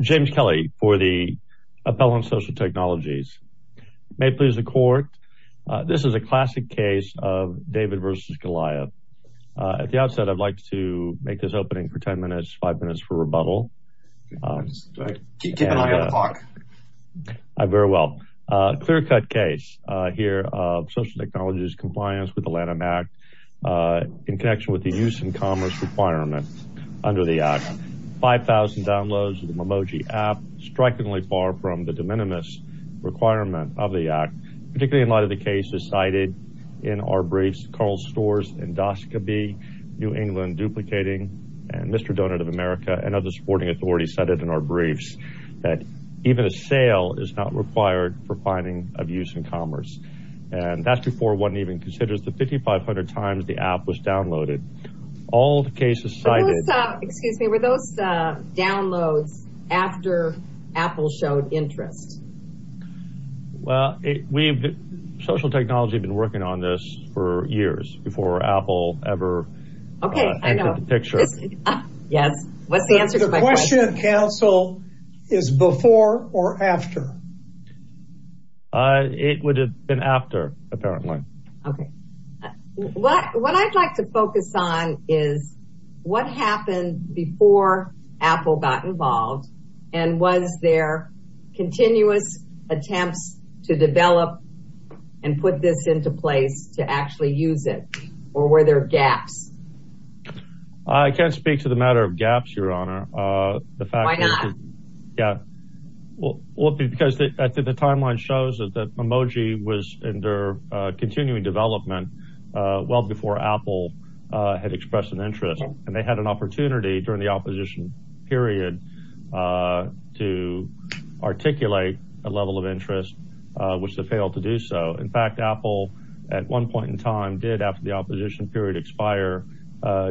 James Kelly for the Appellant Social Technologies. May it please the Court, this is a classic case of David v. Goliath. At the outset I'd like to make this opening for ten minutes, five minutes for rebuttal. Keep an eye on the clock. Very well. Clear-cut case here of Social Technologies compliance with the Lanham Act in connection with the use and commerce requirements under the Act. 5,000 downloads of the Memoji app, strikingly far from the de minimis requirement of the Act, particularly in light of the cases cited in our briefs. Carl Storrs, Endoscopy, New England Duplicating, and Mr. Donut of America and other supporting authorities cited in our briefs that even a sale is not required for finding of use and commerce. And that's before one even considers the 5,500 times the app was downloaded. All the cases cited. Excuse me, were those downloads after Apple showed interest? Well, Social Technologies had been working on this for years before Apple ever painted the picture. Yes, what's the answer to my question? The question of counsel is before or after? It would have been after, apparently. What I'd like to focus on is what happened before Apple got involved and was there continuous attempts to develop and put this into place to actually use it? Or were there gaps? I can't speak to the matter of gaps, Your Honor. Why not? Because the timeline shows that Memoji was in their continuing development well before Apple had expressed an interest. And they had an opportunity during the opposition period to articulate a level of interest, which they failed to do so. In fact, Apple, at one point in time, did, after the opposition period expired,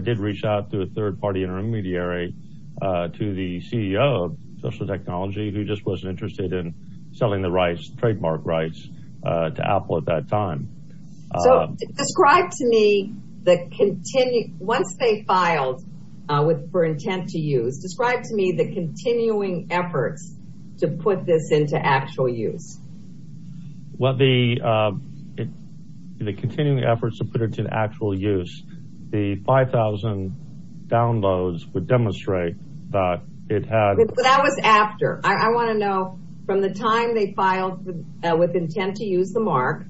did reach out to a third-party intermediary, to the CEO of Social Technology, who just wasn't interested in selling the rights, trademark rights, to Apple at that time. So describe to me, once they filed for intent to use, describe to me the continuing efforts to put this into actual use. Well, the continuing efforts to put it into actual use, the 5,000 downloads would demonstrate that it had... But that was after. I want to know, from the time they filed with intent to use the mark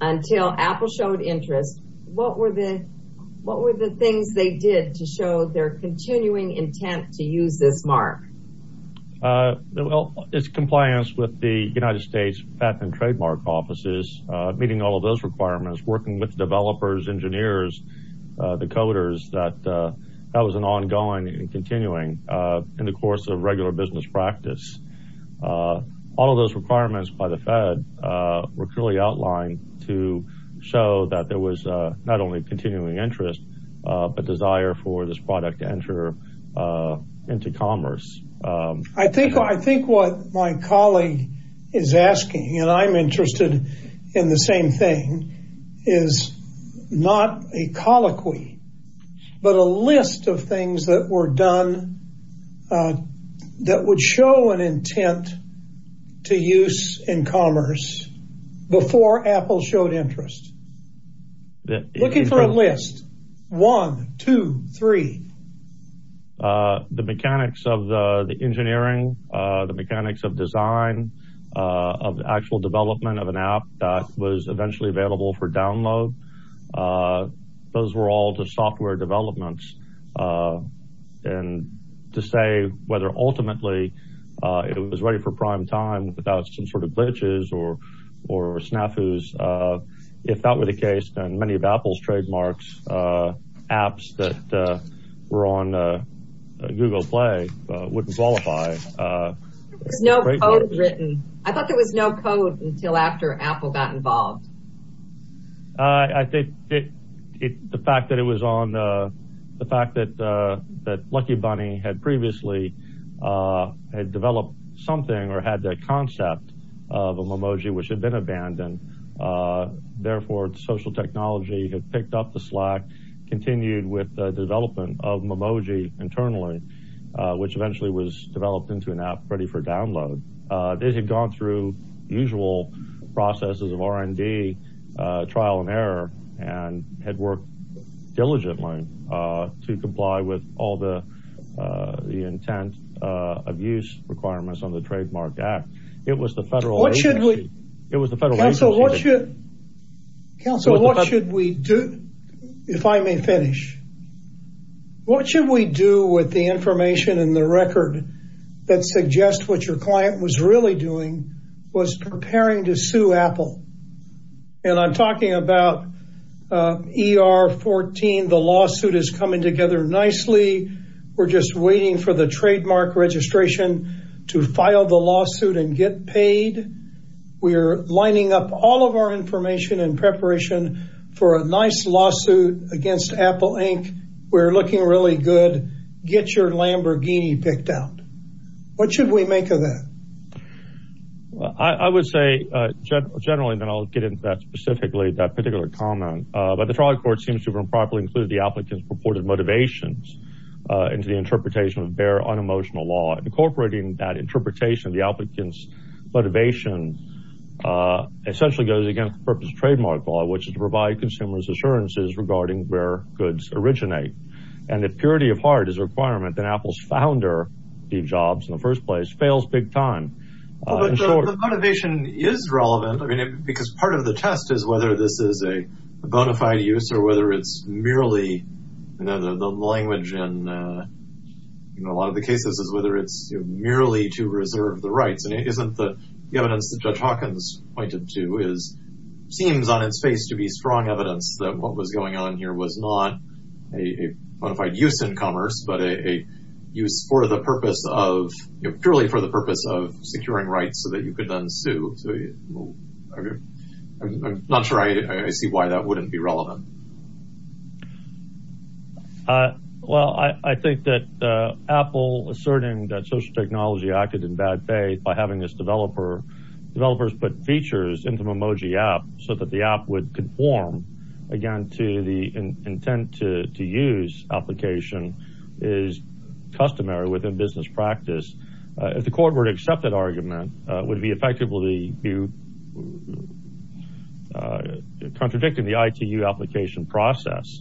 until Apple showed interest, what were the things they did to show their continuing intent to use this mark? Well, it's compliance with the United States patent and trademark offices, meeting all of those requirements, working with developers, engineers, the coders, that that was an ongoing and continuing in the course of regular business practice. All of those requirements by the Fed were clearly outlined to show that there was not only continuing interest, but desire for this product to enter into commerce. I think what my colleague is asking, and I'm interested in the same thing, is not a colloquy, but a list of things that were done that would show an intent to use in commerce before Apple showed interest. Looking for a list. One, two, three. The mechanics of the engineering, the mechanics of design, of the actual development of an app that was eventually available for download, those were all just software developments. And to say whether ultimately it was ready for prime time without some sort of glitches or snafus, if that were the case, then many of Apple's trademarks, apps that were on Google Play, wouldn't qualify. There was no code written. I thought there was no code until after Apple got involved. I think the fact that it was on, the fact that Lucky Bunny had previously developed something or had the concept of a Memoji which had been abandoned, therefore social technology had picked up the slack, continued with the development of Memoji internally, which eventually was developed into an app ready for download. They had gone through usual processes of R&D, trial and error, and had worked diligently to comply with all the intent of use requirements on the trademarked app. It was the federal agency. It was the federal agency. Council, what should we do? If I may finish, what should we do with the information in the record that suggests what your client was really doing was preparing to sue Apple? And I'm talking about ER 14. The lawsuit is coming together nicely. We're just waiting for the trademark registration to file the lawsuit and get paid. We're lining up all of our information in preparation for a nice lawsuit against Apple Inc. We're looking really good. Get your Lamborghini picked out. What should we make of that? I would say generally, and then I'll get into that specifically, that particular comment. But the trial court seems to have improperly included the applicant's purported motivations into the interpretation of their unemotional law. Incorporating that interpretation of the applicant's motivation essentially goes against the purpose of trademark law, which is to provide consumers assurances regarding where goods originate. And if purity of heart is a requirement, then Apple's founder, Steve Jobs, in the first place, fails big time. The motivation is relevant because part of the test is whether this is a bona fide use or whether it's merely the language in a lot of the cases is whether it's merely to reserve the rights. And isn't the evidence that Judge Hawkins pointed to seems on its face to be strong evidence that what was going on here was not a bona fide use in commerce, but a use purely for the purpose of securing rights so that you could then sue. I'm not sure I see why that wouldn't be relevant. Well, I think that Apple asserting that social technology acted in bad faith by having its developers put features into Memoji app so that the app would conform, again, to the intent to use application is customary within business practice. If the court were to accept that argument, it would be effectively contradicting the ITU application process,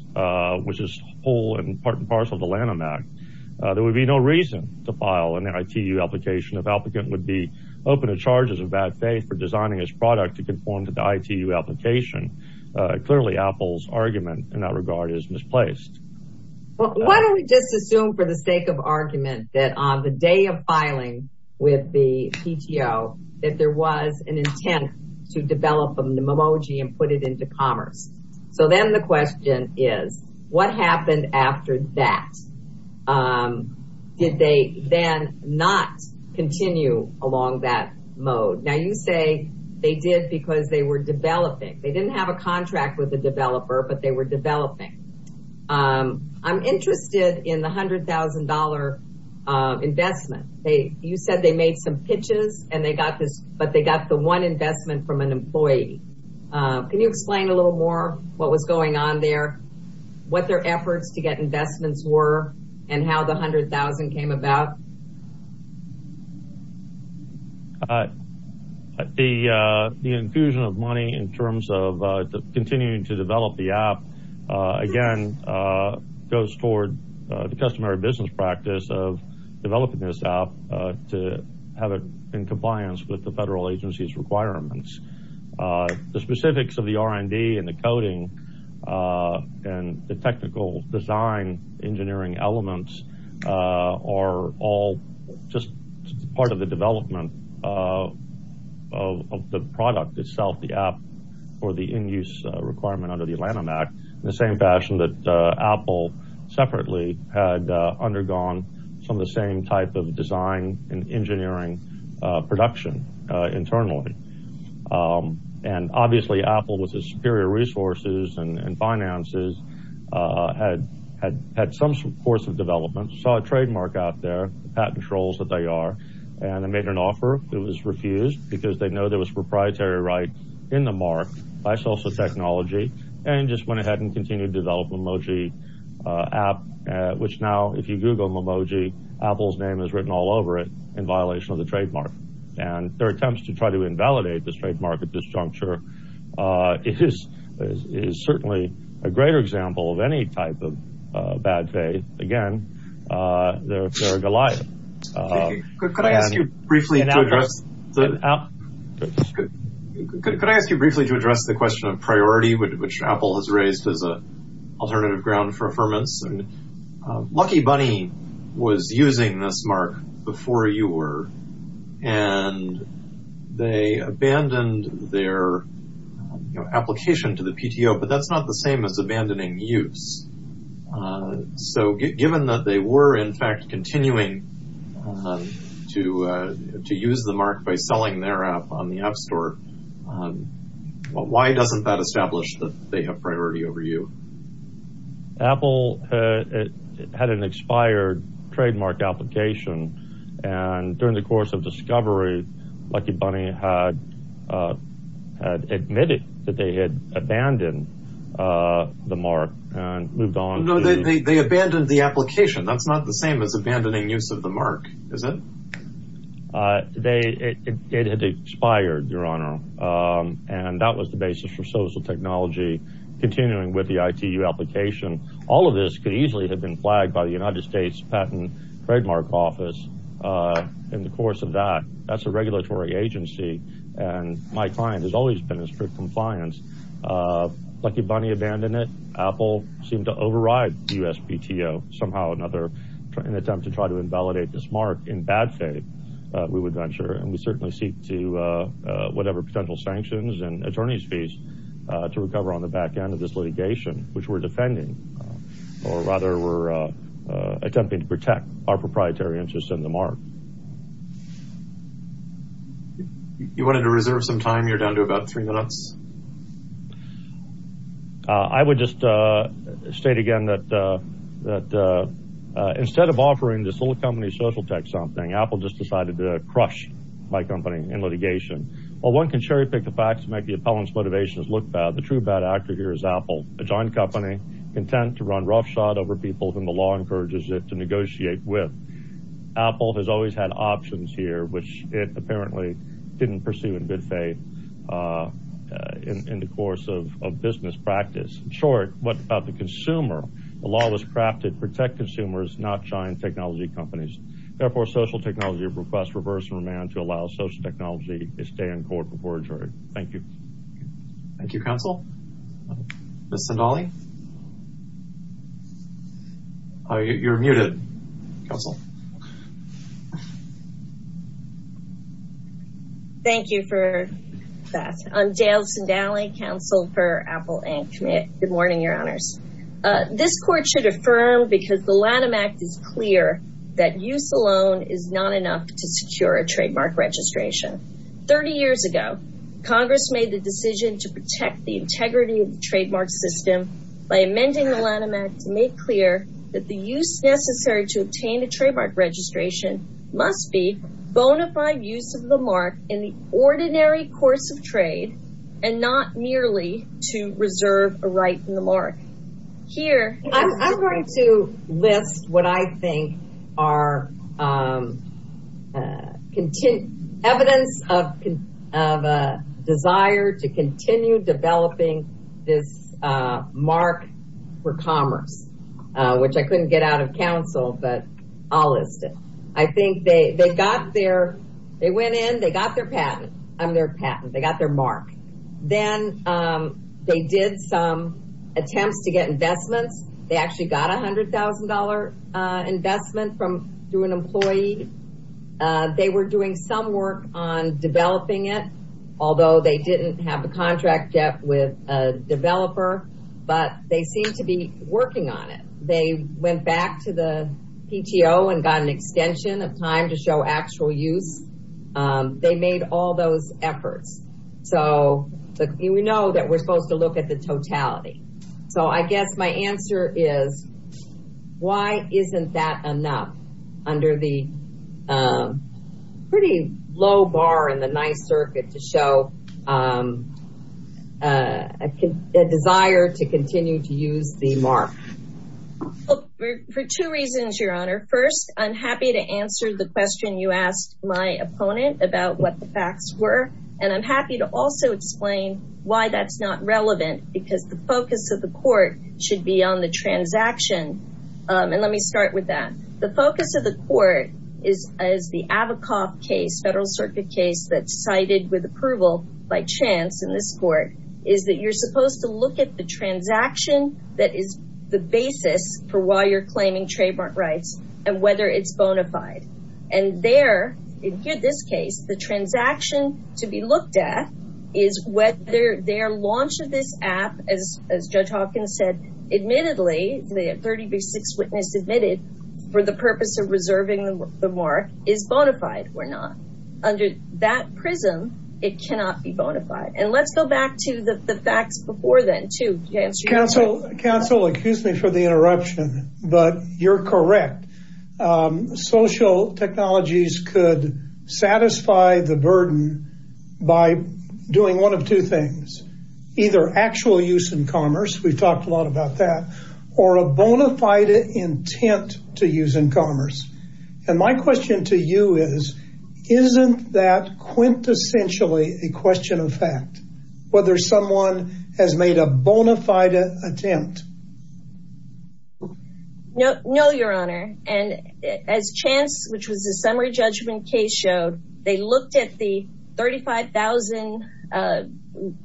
which is whole and part and parcel of the Lanham Act. There would be no reason to file an ITU application if the applicant would be open to charges of bad faith for designing his product to conform to the ITU application. Clearly, Apple's argument in that regard is misplaced. Why don't we just assume for the sake of argument that on the day of filing with the PTO that there was an intent to develop the Memoji and put it into commerce? So then the question is, what happened after that? Did they then not continue along that mode? Now, you say they did because they were developing. They didn't have a contract with the developer, but they were developing. I'm interested in the $100,000 investment. You said they made some pitches, but they got the one investment from an employee. Can you explain a little more what was going on there, what their efforts to get investments were, and how the $100,000 came about? The infusion of money in terms of continuing to develop the app, again, goes toward the customary business practice of developing this app to have it in compliance with the federal agency's requirements. The specifics of the R&D and the coding and the technical design engineering elements are all just part of the development of the product itself, the app, or the in-use requirement under the Atlanta Act in the same fashion that Apple separately had undergone some of the same type of design and engineering production internally. Obviously, Apple, with its superior resources and finances, had some course of development, saw a trademark out there, the patent trolls that they are, and made an offer. It was refused because they know there was proprietary right in the mark by social technology and just went ahead and continued to develop Memoji app, which now, if you Google Memoji, Apple's name is written all over it in violation of the trademark. Their attempts to try to invalidate the trademark at this juncture is certainly a greater example of any type of bad faith. Again, they're a Goliath. Could I ask you briefly to address the question of priority, which Apple has raised as an alternative ground for affirmance? Lucky Bunny was using this mark before you were, and they abandoned their application to the PTO, but that's not the same as abandoning use. Given that they were, in fact, continuing to use the mark by selling their app on the App Store, why doesn't that establish that they have priority over you? Apple had an expired trademark application, and during the course of discovery, Lucky Bunny had admitted that they had abandoned the mark and moved on. No, they abandoned the application. That's not the same as abandoning use of the mark, is it? It had expired, Your Honor, and that was the basis for social technology continuing with the ITU application. All of this could easily have been flagged by the United States Patent Trademark Office in the course of that. That's a regulatory agency, and my client has always been in strict compliance. Lucky Bunny abandoned it. Apple seemed to override the USPTO somehow or another in an attempt to try to invalidate this mark in bad faith, we would venture. And we certainly seek to, whatever potential sanctions and attorney's fees, to recover on the back end of this litigation, which we're defending. Or rather, we're attempting to protect our proprietary interests and the mark. You wanted to reserve some time? You're down to about three minutes. I would just state again that instead of offering this whole company's social tech something, Apple just decided to crush my company in litigation. While one can cherry pick the facts to make the appellant's motivations look bad, the true bad actor here is Apple, a joint company content to run roughshod over people whom the law encourages it to negotiate with. Apple has always had options here, which it apparently didn't pursue in good faith in the course of business practice. In short, what about the consumer? The law was crafted to protect consumers, not giant technology companies. Therefore, social technology requests reverse remand to allow social technology to stay in court before a jury. Thank you. Thank you, Counsel. Ms. Zendali? You're muted, Counsel. Thank you for that. I'm Dale Zendali, Counsel for Apple Inc. Good morning, Your Honors. This court should affirm because the Lanham Act is clear that use alone is not enough to secure a trademark registration. Thirty years ago, Congress made the decision to protect the integrity of the trademark system by amending the Lanham Act to make clear that the use necessary to obtain a trademark registration must be bona fide use of the mark in the ordinary course of trade and not merely to reserve a right in the mark. I'm going to list what I think are evidence of a desire to continue developing this mark for commerce, which I couldn't get out of counsel, but I'll list it. I think they got their, they went in, they got their patent, their patent, they got their mark. Then they did some attempts to get investments. They actually got a $100,000 investment through an employee. They were doing some work on developing it, although they didn't have a contract yet with a developer, but they seem to be working on it. They went back to the PTO and got an extension of time to show actual use. They made all those efforts. So we know that we're supposed to look at the totality. So I guess my answer is, why isn't that enough under the pretty low bar in the nice circuit to show a desire to continue to use the mark? For two reasons, Your Honor. First, I'm happy to answer the question you asked my opponent about what the facts were. And I'm happy to also explain why that's not relevant, because the focus of the court should be on the transaction. And let me start with that. The focus of the court is, as the Avakov case, Federal Circuit case that's cited with approval by chance in this court, is that you're supposed to look at the transaction that is the basis for why you're claiming trademark rights and whether it's bona fide. And there, in this case, the transaction to be looked at is whether their launch of this app, as Judge Hawkins said, admittedly, the 36 witness admitted for the purpose of reserving the mark, is bona fide or not. Under that prism, it cannot be bona fide. And let's go back to the facts before then, too. Counsel, excuse me for the interruption, but you're correct. Social technologies could satisfy the burden by doing one of two things. Either actual use in commerce, we've talked a lot about that, or a bona fide intent to use in commerce. And my question to you is, isn't that quintessentially a question of fact, whether someone has made a bona fide attempt? No, Your Honor. And as chance, which was a summary judgment case, showed, they looked at the 35,000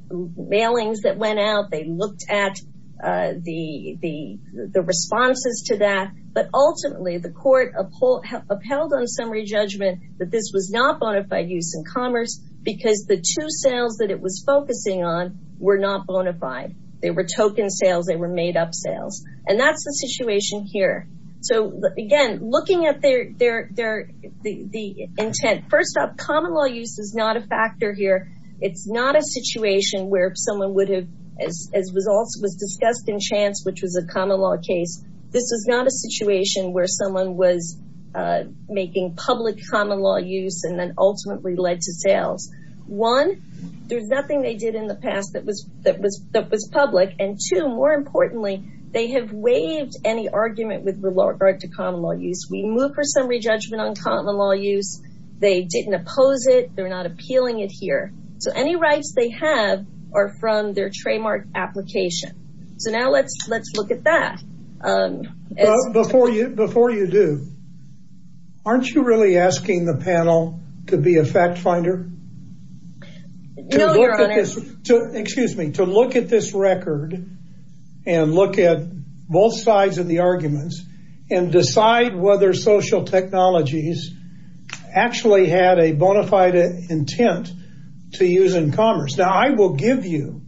mailings that went out. They looked at the responses to that. But ultimately, the court upheld on summary judgment that this was not bona fide use in commerce because the two sales that it was focusing on were not bona fide. They were token sales. They were made-up sales. And that's the situation here. So, again, looking at the intent, first off, common law use is not a factor here. It's not a situation where someone would have, as was discussed in chance, which was a common law case, this is not a situation where someone was making public common law use and then ultimately led to sales. One, there's nothing they did in the past that was public. And two, more importantly, they have waived any argument with regard to common law use. We move for summary judgment on common law use. They didn't oppose it. They're not appealing it here. So any rights they have are from their trademark application. So now let's look at that. Before you do, aren't you really asking the panel to be a fact finder? No, Your Honor. Excuse me. To look at this record and look at both sides of the arguments and decide whether social technologies actually had a bona fide intent to use in commerce. Now, I will give you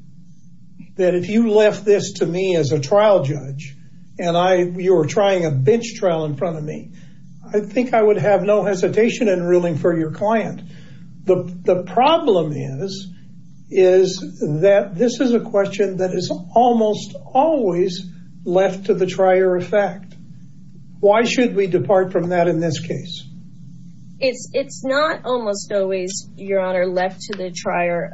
that if you left this to me as a trial judge and you were trying a bench trial in front of me, I think I would have no hesitation in ruling for your client. The problem is that this is a question that is almost always left to the trier of fact. Why should we depart from that in this case? It's not almost always, Your Honor, left to the trier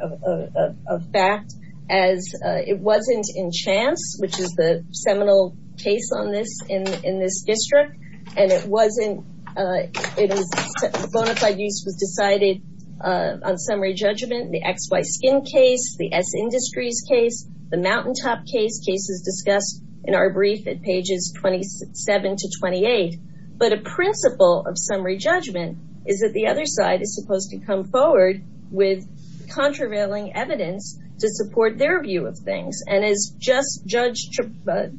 of fact as it wasn't in chance, which is the seminal case on this in this district, and it wasn't, it was, bona fide use was decided on summary judgment, the XY Skin case, the S Industries case, the Mountaintop case, cases discussed in our brief at pages 27 to 28. But a principle of summary judgment is that the other side is supposed to come forward with contravailing evidence to support their view of things. And as the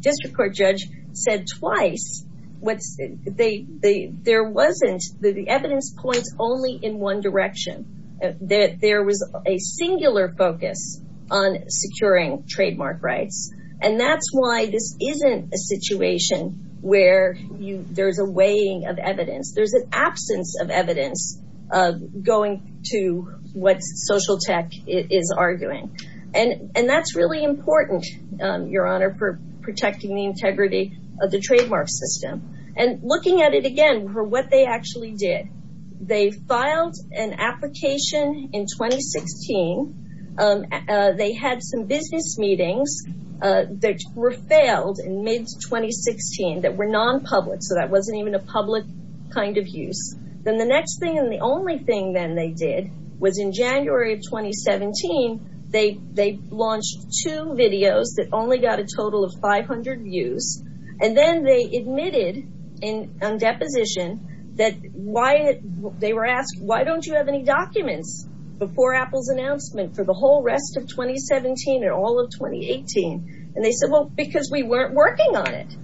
district court judge said twice, there wasn't, the evidence points only in one direction. There was a singular focus on securing trademark rights. And that's why this isn't a situation where there's a weighing of evidence. There's an absence of evidence of going to what social tech is arguing. And that's really important, Your Honor, for protecting the integrity of the trademark system. And looking at it again for what they actually did. They filed an application in 2016. They had some business meetings that were failed in mid-2016 that were non-public. So that wasn't even a public kind of use. Then the next thing and the only thing then they did was in January of 2017, they launched two videos that only got a total of 500 views. And then they admitted on deposition that they were asked, why don't you have any documents before Apple's announcement for the whole rest of 2017 and all of 2018? And they said, well, because we weren't working on it.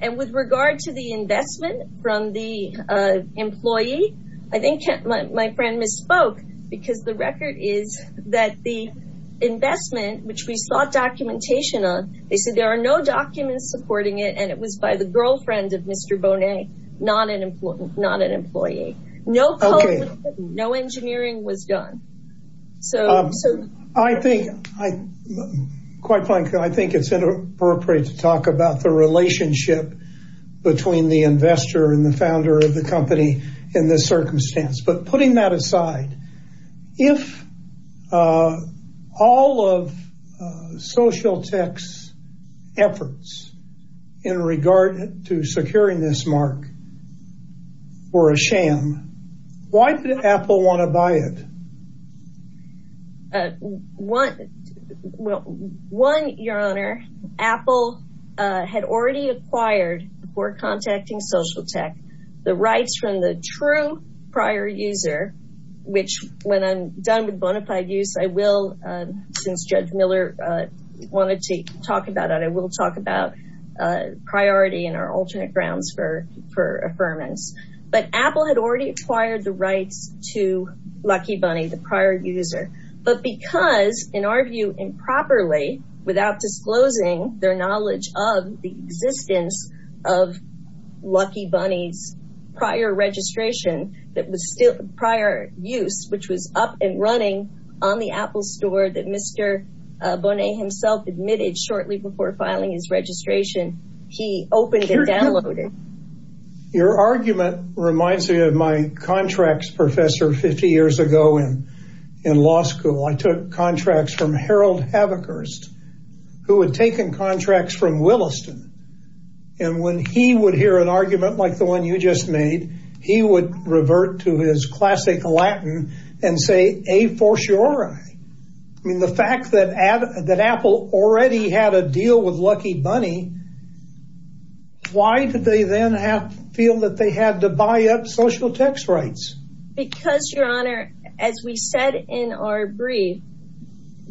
And with regard to the investment from the employee, I think my friend misspoke because the record is that the investment, which we sought documentation on, they said there are no documents supporting it. And it was by the girlfriend of Mr. Bonet, not an employee. No, no engineering was done. So I think I quite frankly, I think it's inappropriate to talk about the relationship between the investor and the founder of the company in this circumstance. But putting that aside, if all of Social Tech's efforts in regard to securing this mark were a sham, why did Apple want to buy it? One, your honor, Apple had already acquired before contacting Social Tech, the rights from the true prior user, which when I'm done with bonafide use, I will, since Judge Miller wanted to talk about it, I will talk about priority and our alternate grounds for, for affirmance. But Apple had already acquired the rights to Lucky Bunny, the prior user. But because in our view, improperly, without disclosing their knowledge of the existence of Lucky Bunny's prior registration, that was still prior use, which was up and running on the Apple store that Mr. Bonet himself admitted shortly before filing his registration, he opened and downloaded. Your argument reminds me of my contracts professor 50 years ago in law school. I took contracts from Harold Haverhurst, who had taken contracts from Williston. And when he would hear an argument like the one you just made, he would revert to his classic Latin and say, a for sure. I mean, the fact that, that Apple already had a deal with Lucky Bunny, why did they then feel that they had to buy up Social Tech's rights? Because your honor, as we said in our brief,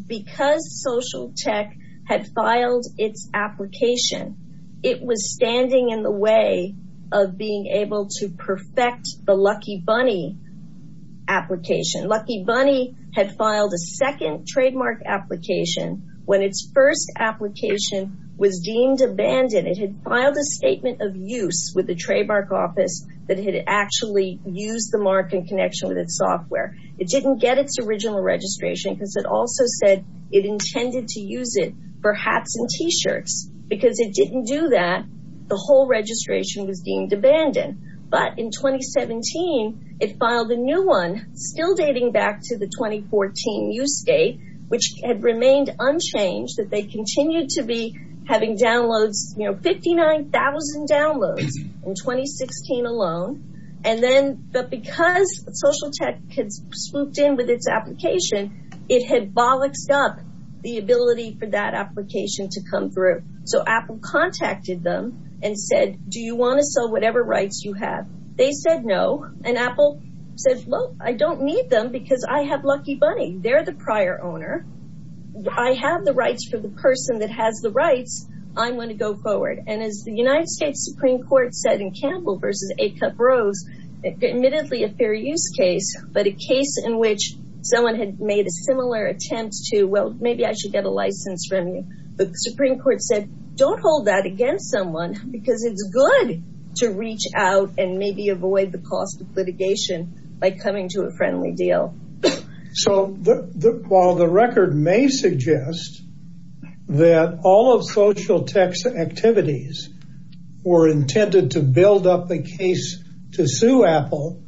because Social Tech had filed its application, it was standing in the way of being able to perfect the Lucky Bunny application. Lucky Bunny had filed a second trademark application when its first application was deemed abandoned. It had filed a statement of use with the trademark office that it had actually used the mark in connection with its software. It didn't get its original registration because it also said it intended to use it for hats and T-shirts. Because it didn't do that, the whole registration was deemed abandoned. But in 2017, it filed a new one, still dating back to the 2014 use date, which had remained unchanged. That they continued to be having downloads, you know, 59,000 downloads in 2016 alone. And then, but because Social Tech had swooped in with its application, it had bollocked up the ability for that application to come through. So Apple contacted them and said, do you want to sell whatever rights you have? They said no. And Apple said, well, I don't need them because I have Lucky Bunny. They're the prior owner. I have the rights for the person that has the rights. I'm going to go forward. And as the United States Supreme Court said in Campbell v. Acup-Rose, admittedly a fair use case, but a case in which someone had made a similar attempt to, well, maybe I should get a license from you. But the Supreme Court said, don't hold that against someone because it's good to reach out and maybe avoid the cost of litigation by coming to a friendly deal. So while the record may suggest that all of Social Tech's activities were intended to build up the case to sue Apple,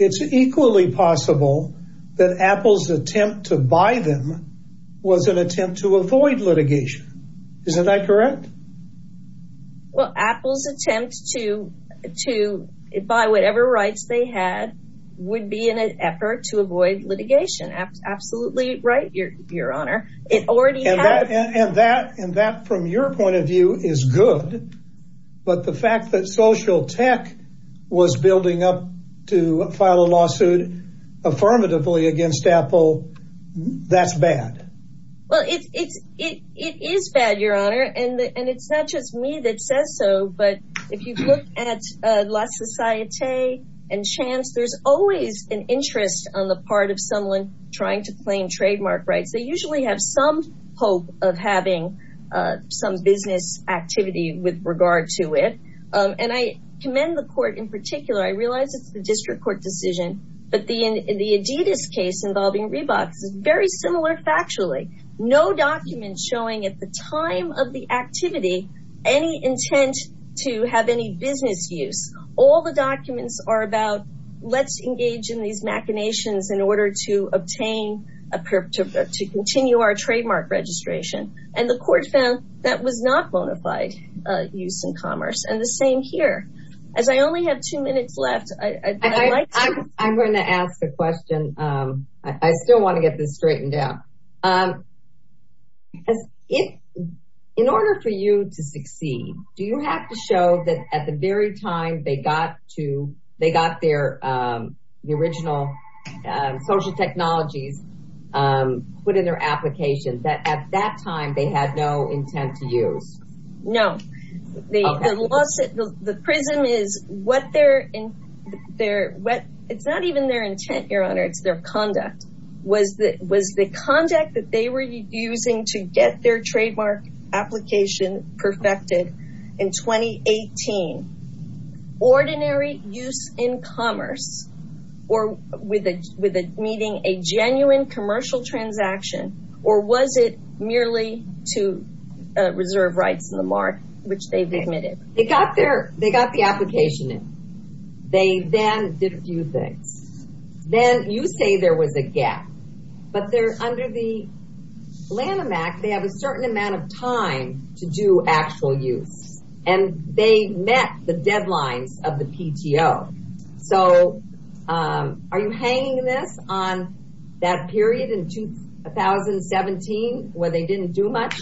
it's equally possible that Apple's attempt to buy them was an attempt to avoid litigation. Isn't that correct? Well, Apple's attempt to buy whatever rights they had would be an effort to avoid litigation. Absolutely right, Your Honor. And that, from your point of view, is good. But the fact that Social Tech was building up to file a lawsuit affirmatively against Apple, that's bad. Well, it is bad, Your Honor. And it's not just me that says so, but if you look at La Societe and Chance, there's always an interest on the part of someone trying to claim trademark rights. They usually have some hope of having some business activity with regard to it. And I commend the court in particular. I realize it's the district court decision, but the Adidas case involving Reeboks is very similar factually. No document showing at the time of the activity any intent to have any business use. All the documents are about let's engage in these machinations in order to obtain, to continue our trademark registration. And the court found that was not bona fide use in commerce. And the same here. As I only have two minutes left, I'd like to... I'm going to ask a question. I still want to get this straightened out. In order for you to succeed, do you have to show that at the very time they got their original social technologies put in their application, that at that time they had no intent to use? No. The prism is what their... It's not even their intent, Your Honor. It's their conduct. Was the conduct that they were using to get their trademark application perfected in 2018 ordinary use in commerce? Or with it meeting a genuine commercial transaction? Or was it merely to reserve rights in the mark, which they've admitted? They got the application in. They then did a few things. Then you say there was a gap. But under the Lanham Act, they have a certain amount of time to do actual use. And they met the deadlines of the PTO. So are you hanging this on that period in 2017 where they didn't do much?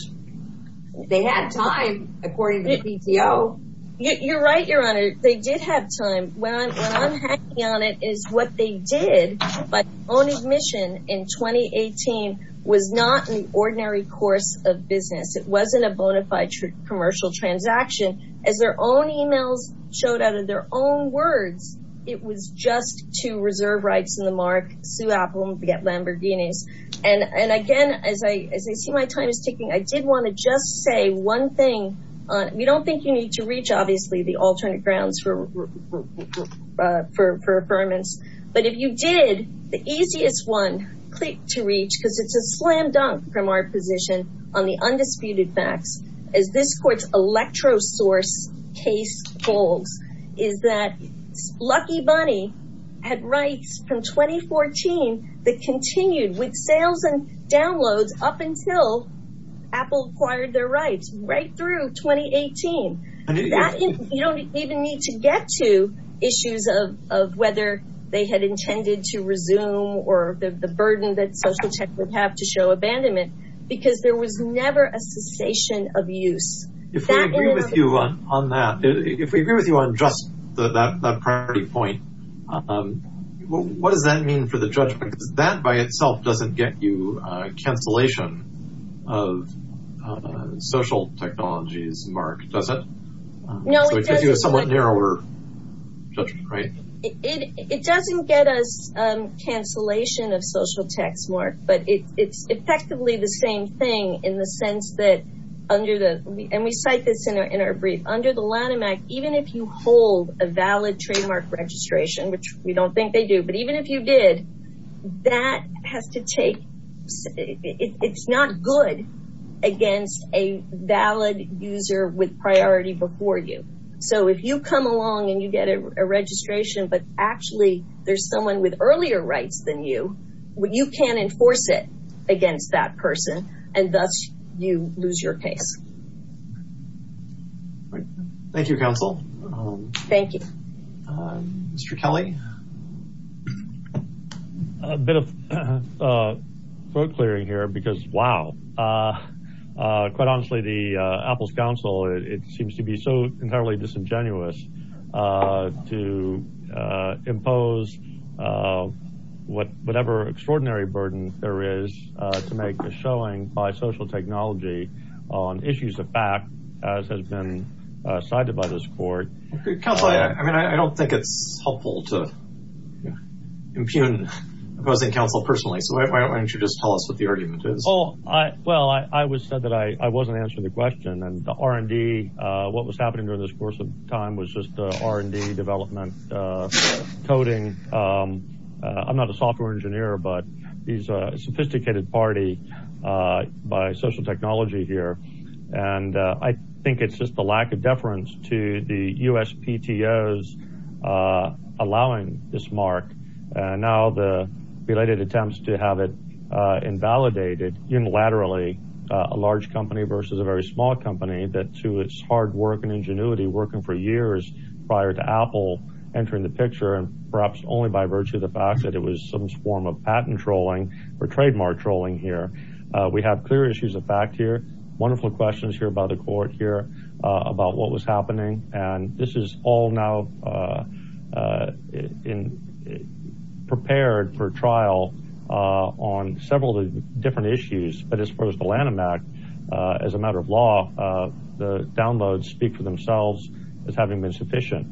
They had time, according to the PTO. You're right, Your Honor. They did have time. What I'm hanging on it is what they did by own admission in 2018 was not an ordinary course of business. It wasn't a bona fide commercial transaction. As their own emails showed out of their own words, it was just to reserve rights in the mark, sue Apple and forget Lamborghinis. And again, as I see my time is ticking, I did want to just say one thing. We don't think you need to reach, obviously, the alternate grounds for affirmance. But if you did, the easiest one to reach, because it's a slam dunk from our position on the undisputed facts, as this court's electrosource case holds, is that Lucky Bunny had rights from 2014 that continued with sales and downloads up until Apple acquired their rights right through 2018. You don't even need to get to issues of whether they had intended to resume or the burden that social tech would have to show abandonment. Because there was never a cessation of use. If we agree with you on that, if we agree with you on just that priority point, what does that mean for the judgment? Because that by itself doesn't get you a cancellation of social technology's mark, does it? No, it doesn't. So it gives you a somewhat narrower judgment, right? It doesn't get us cancellation of social tech's mark, but it's effectively the same thing in the sense that under the, and we cite this in our brief, under the Lanham Act, even if you hold a valid trademark registration, which we don't think they do, but even if you did, that has to take, it's not good against a valid user with priority before you. So if you come along and you get a registration, but actually there's someone with earlier rights than you, you can't enforce it against that person, and thus you lose your case. Thank you, counsel. Thank you. Mr. Kelly? A bit of throat clearing here because, wow, quite honestly, the Apple's counsel, it seems to be so entirely disingenuous to impose whatever extraordinary burden there is to make a showing by social technology on issues of fact as has been cited by this court. Counsel, I mean, I don't think it's helpful to impugn opposing counsel personally, so why don't you just tell us what the argument is? Well, I was said that I wasn't answering the question, and the R&D, what was happening during this course of time was just R&D development, coding. I'm not a software engineer, but he's a sophisticated party by social technology here, and I think it's just the lack of deference to the USPTOs allowing this mark. And now the related attempts to have it invalidated unilaterally, a large company versus a very small company that to its hard work and ingenuity, working for years prior to Apple entering the picture, and perhaps only by virtue of the fact that it was some form of patent trolling or trademark trolling here. We have clear issues of fact here, wonderful questions here by the court here about what was happening, and this is all now prepared for trial on several different issues, but as far as the Lanham Act, as a matter of law, the downloads speak for themselves as having been sufficient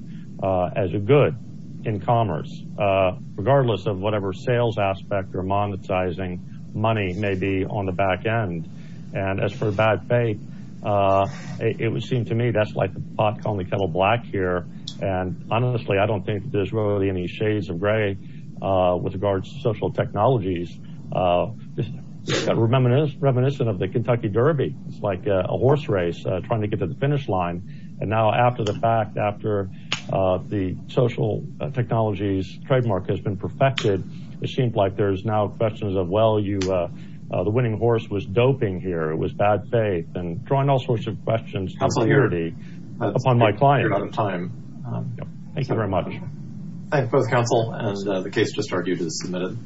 as a good in commerce. Regardless of whatever sales aspect or monetizing money may be on the back end, and as for bad faith, it would seem to me that's like the pot calling the kettle black here, and honestly I don't think there's really any shades of gray with regards to social technologies. Reminiscent of the Kentucky Derby, it's like a horse race trying to get to the finish line, and now after the fact, after the social technologies trademark has been perfected, it seems like there's now questions of, well, the winning horse was doping here, it was bad faith, and drawing all sorts of questions upon my client. Thank you very much. Thank you both counsel, and the case just argued is submitted.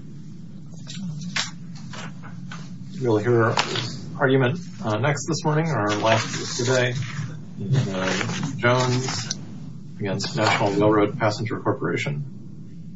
You'll hear our argument next this morning, our last today, Jones against National Railroad Passenger Corporation.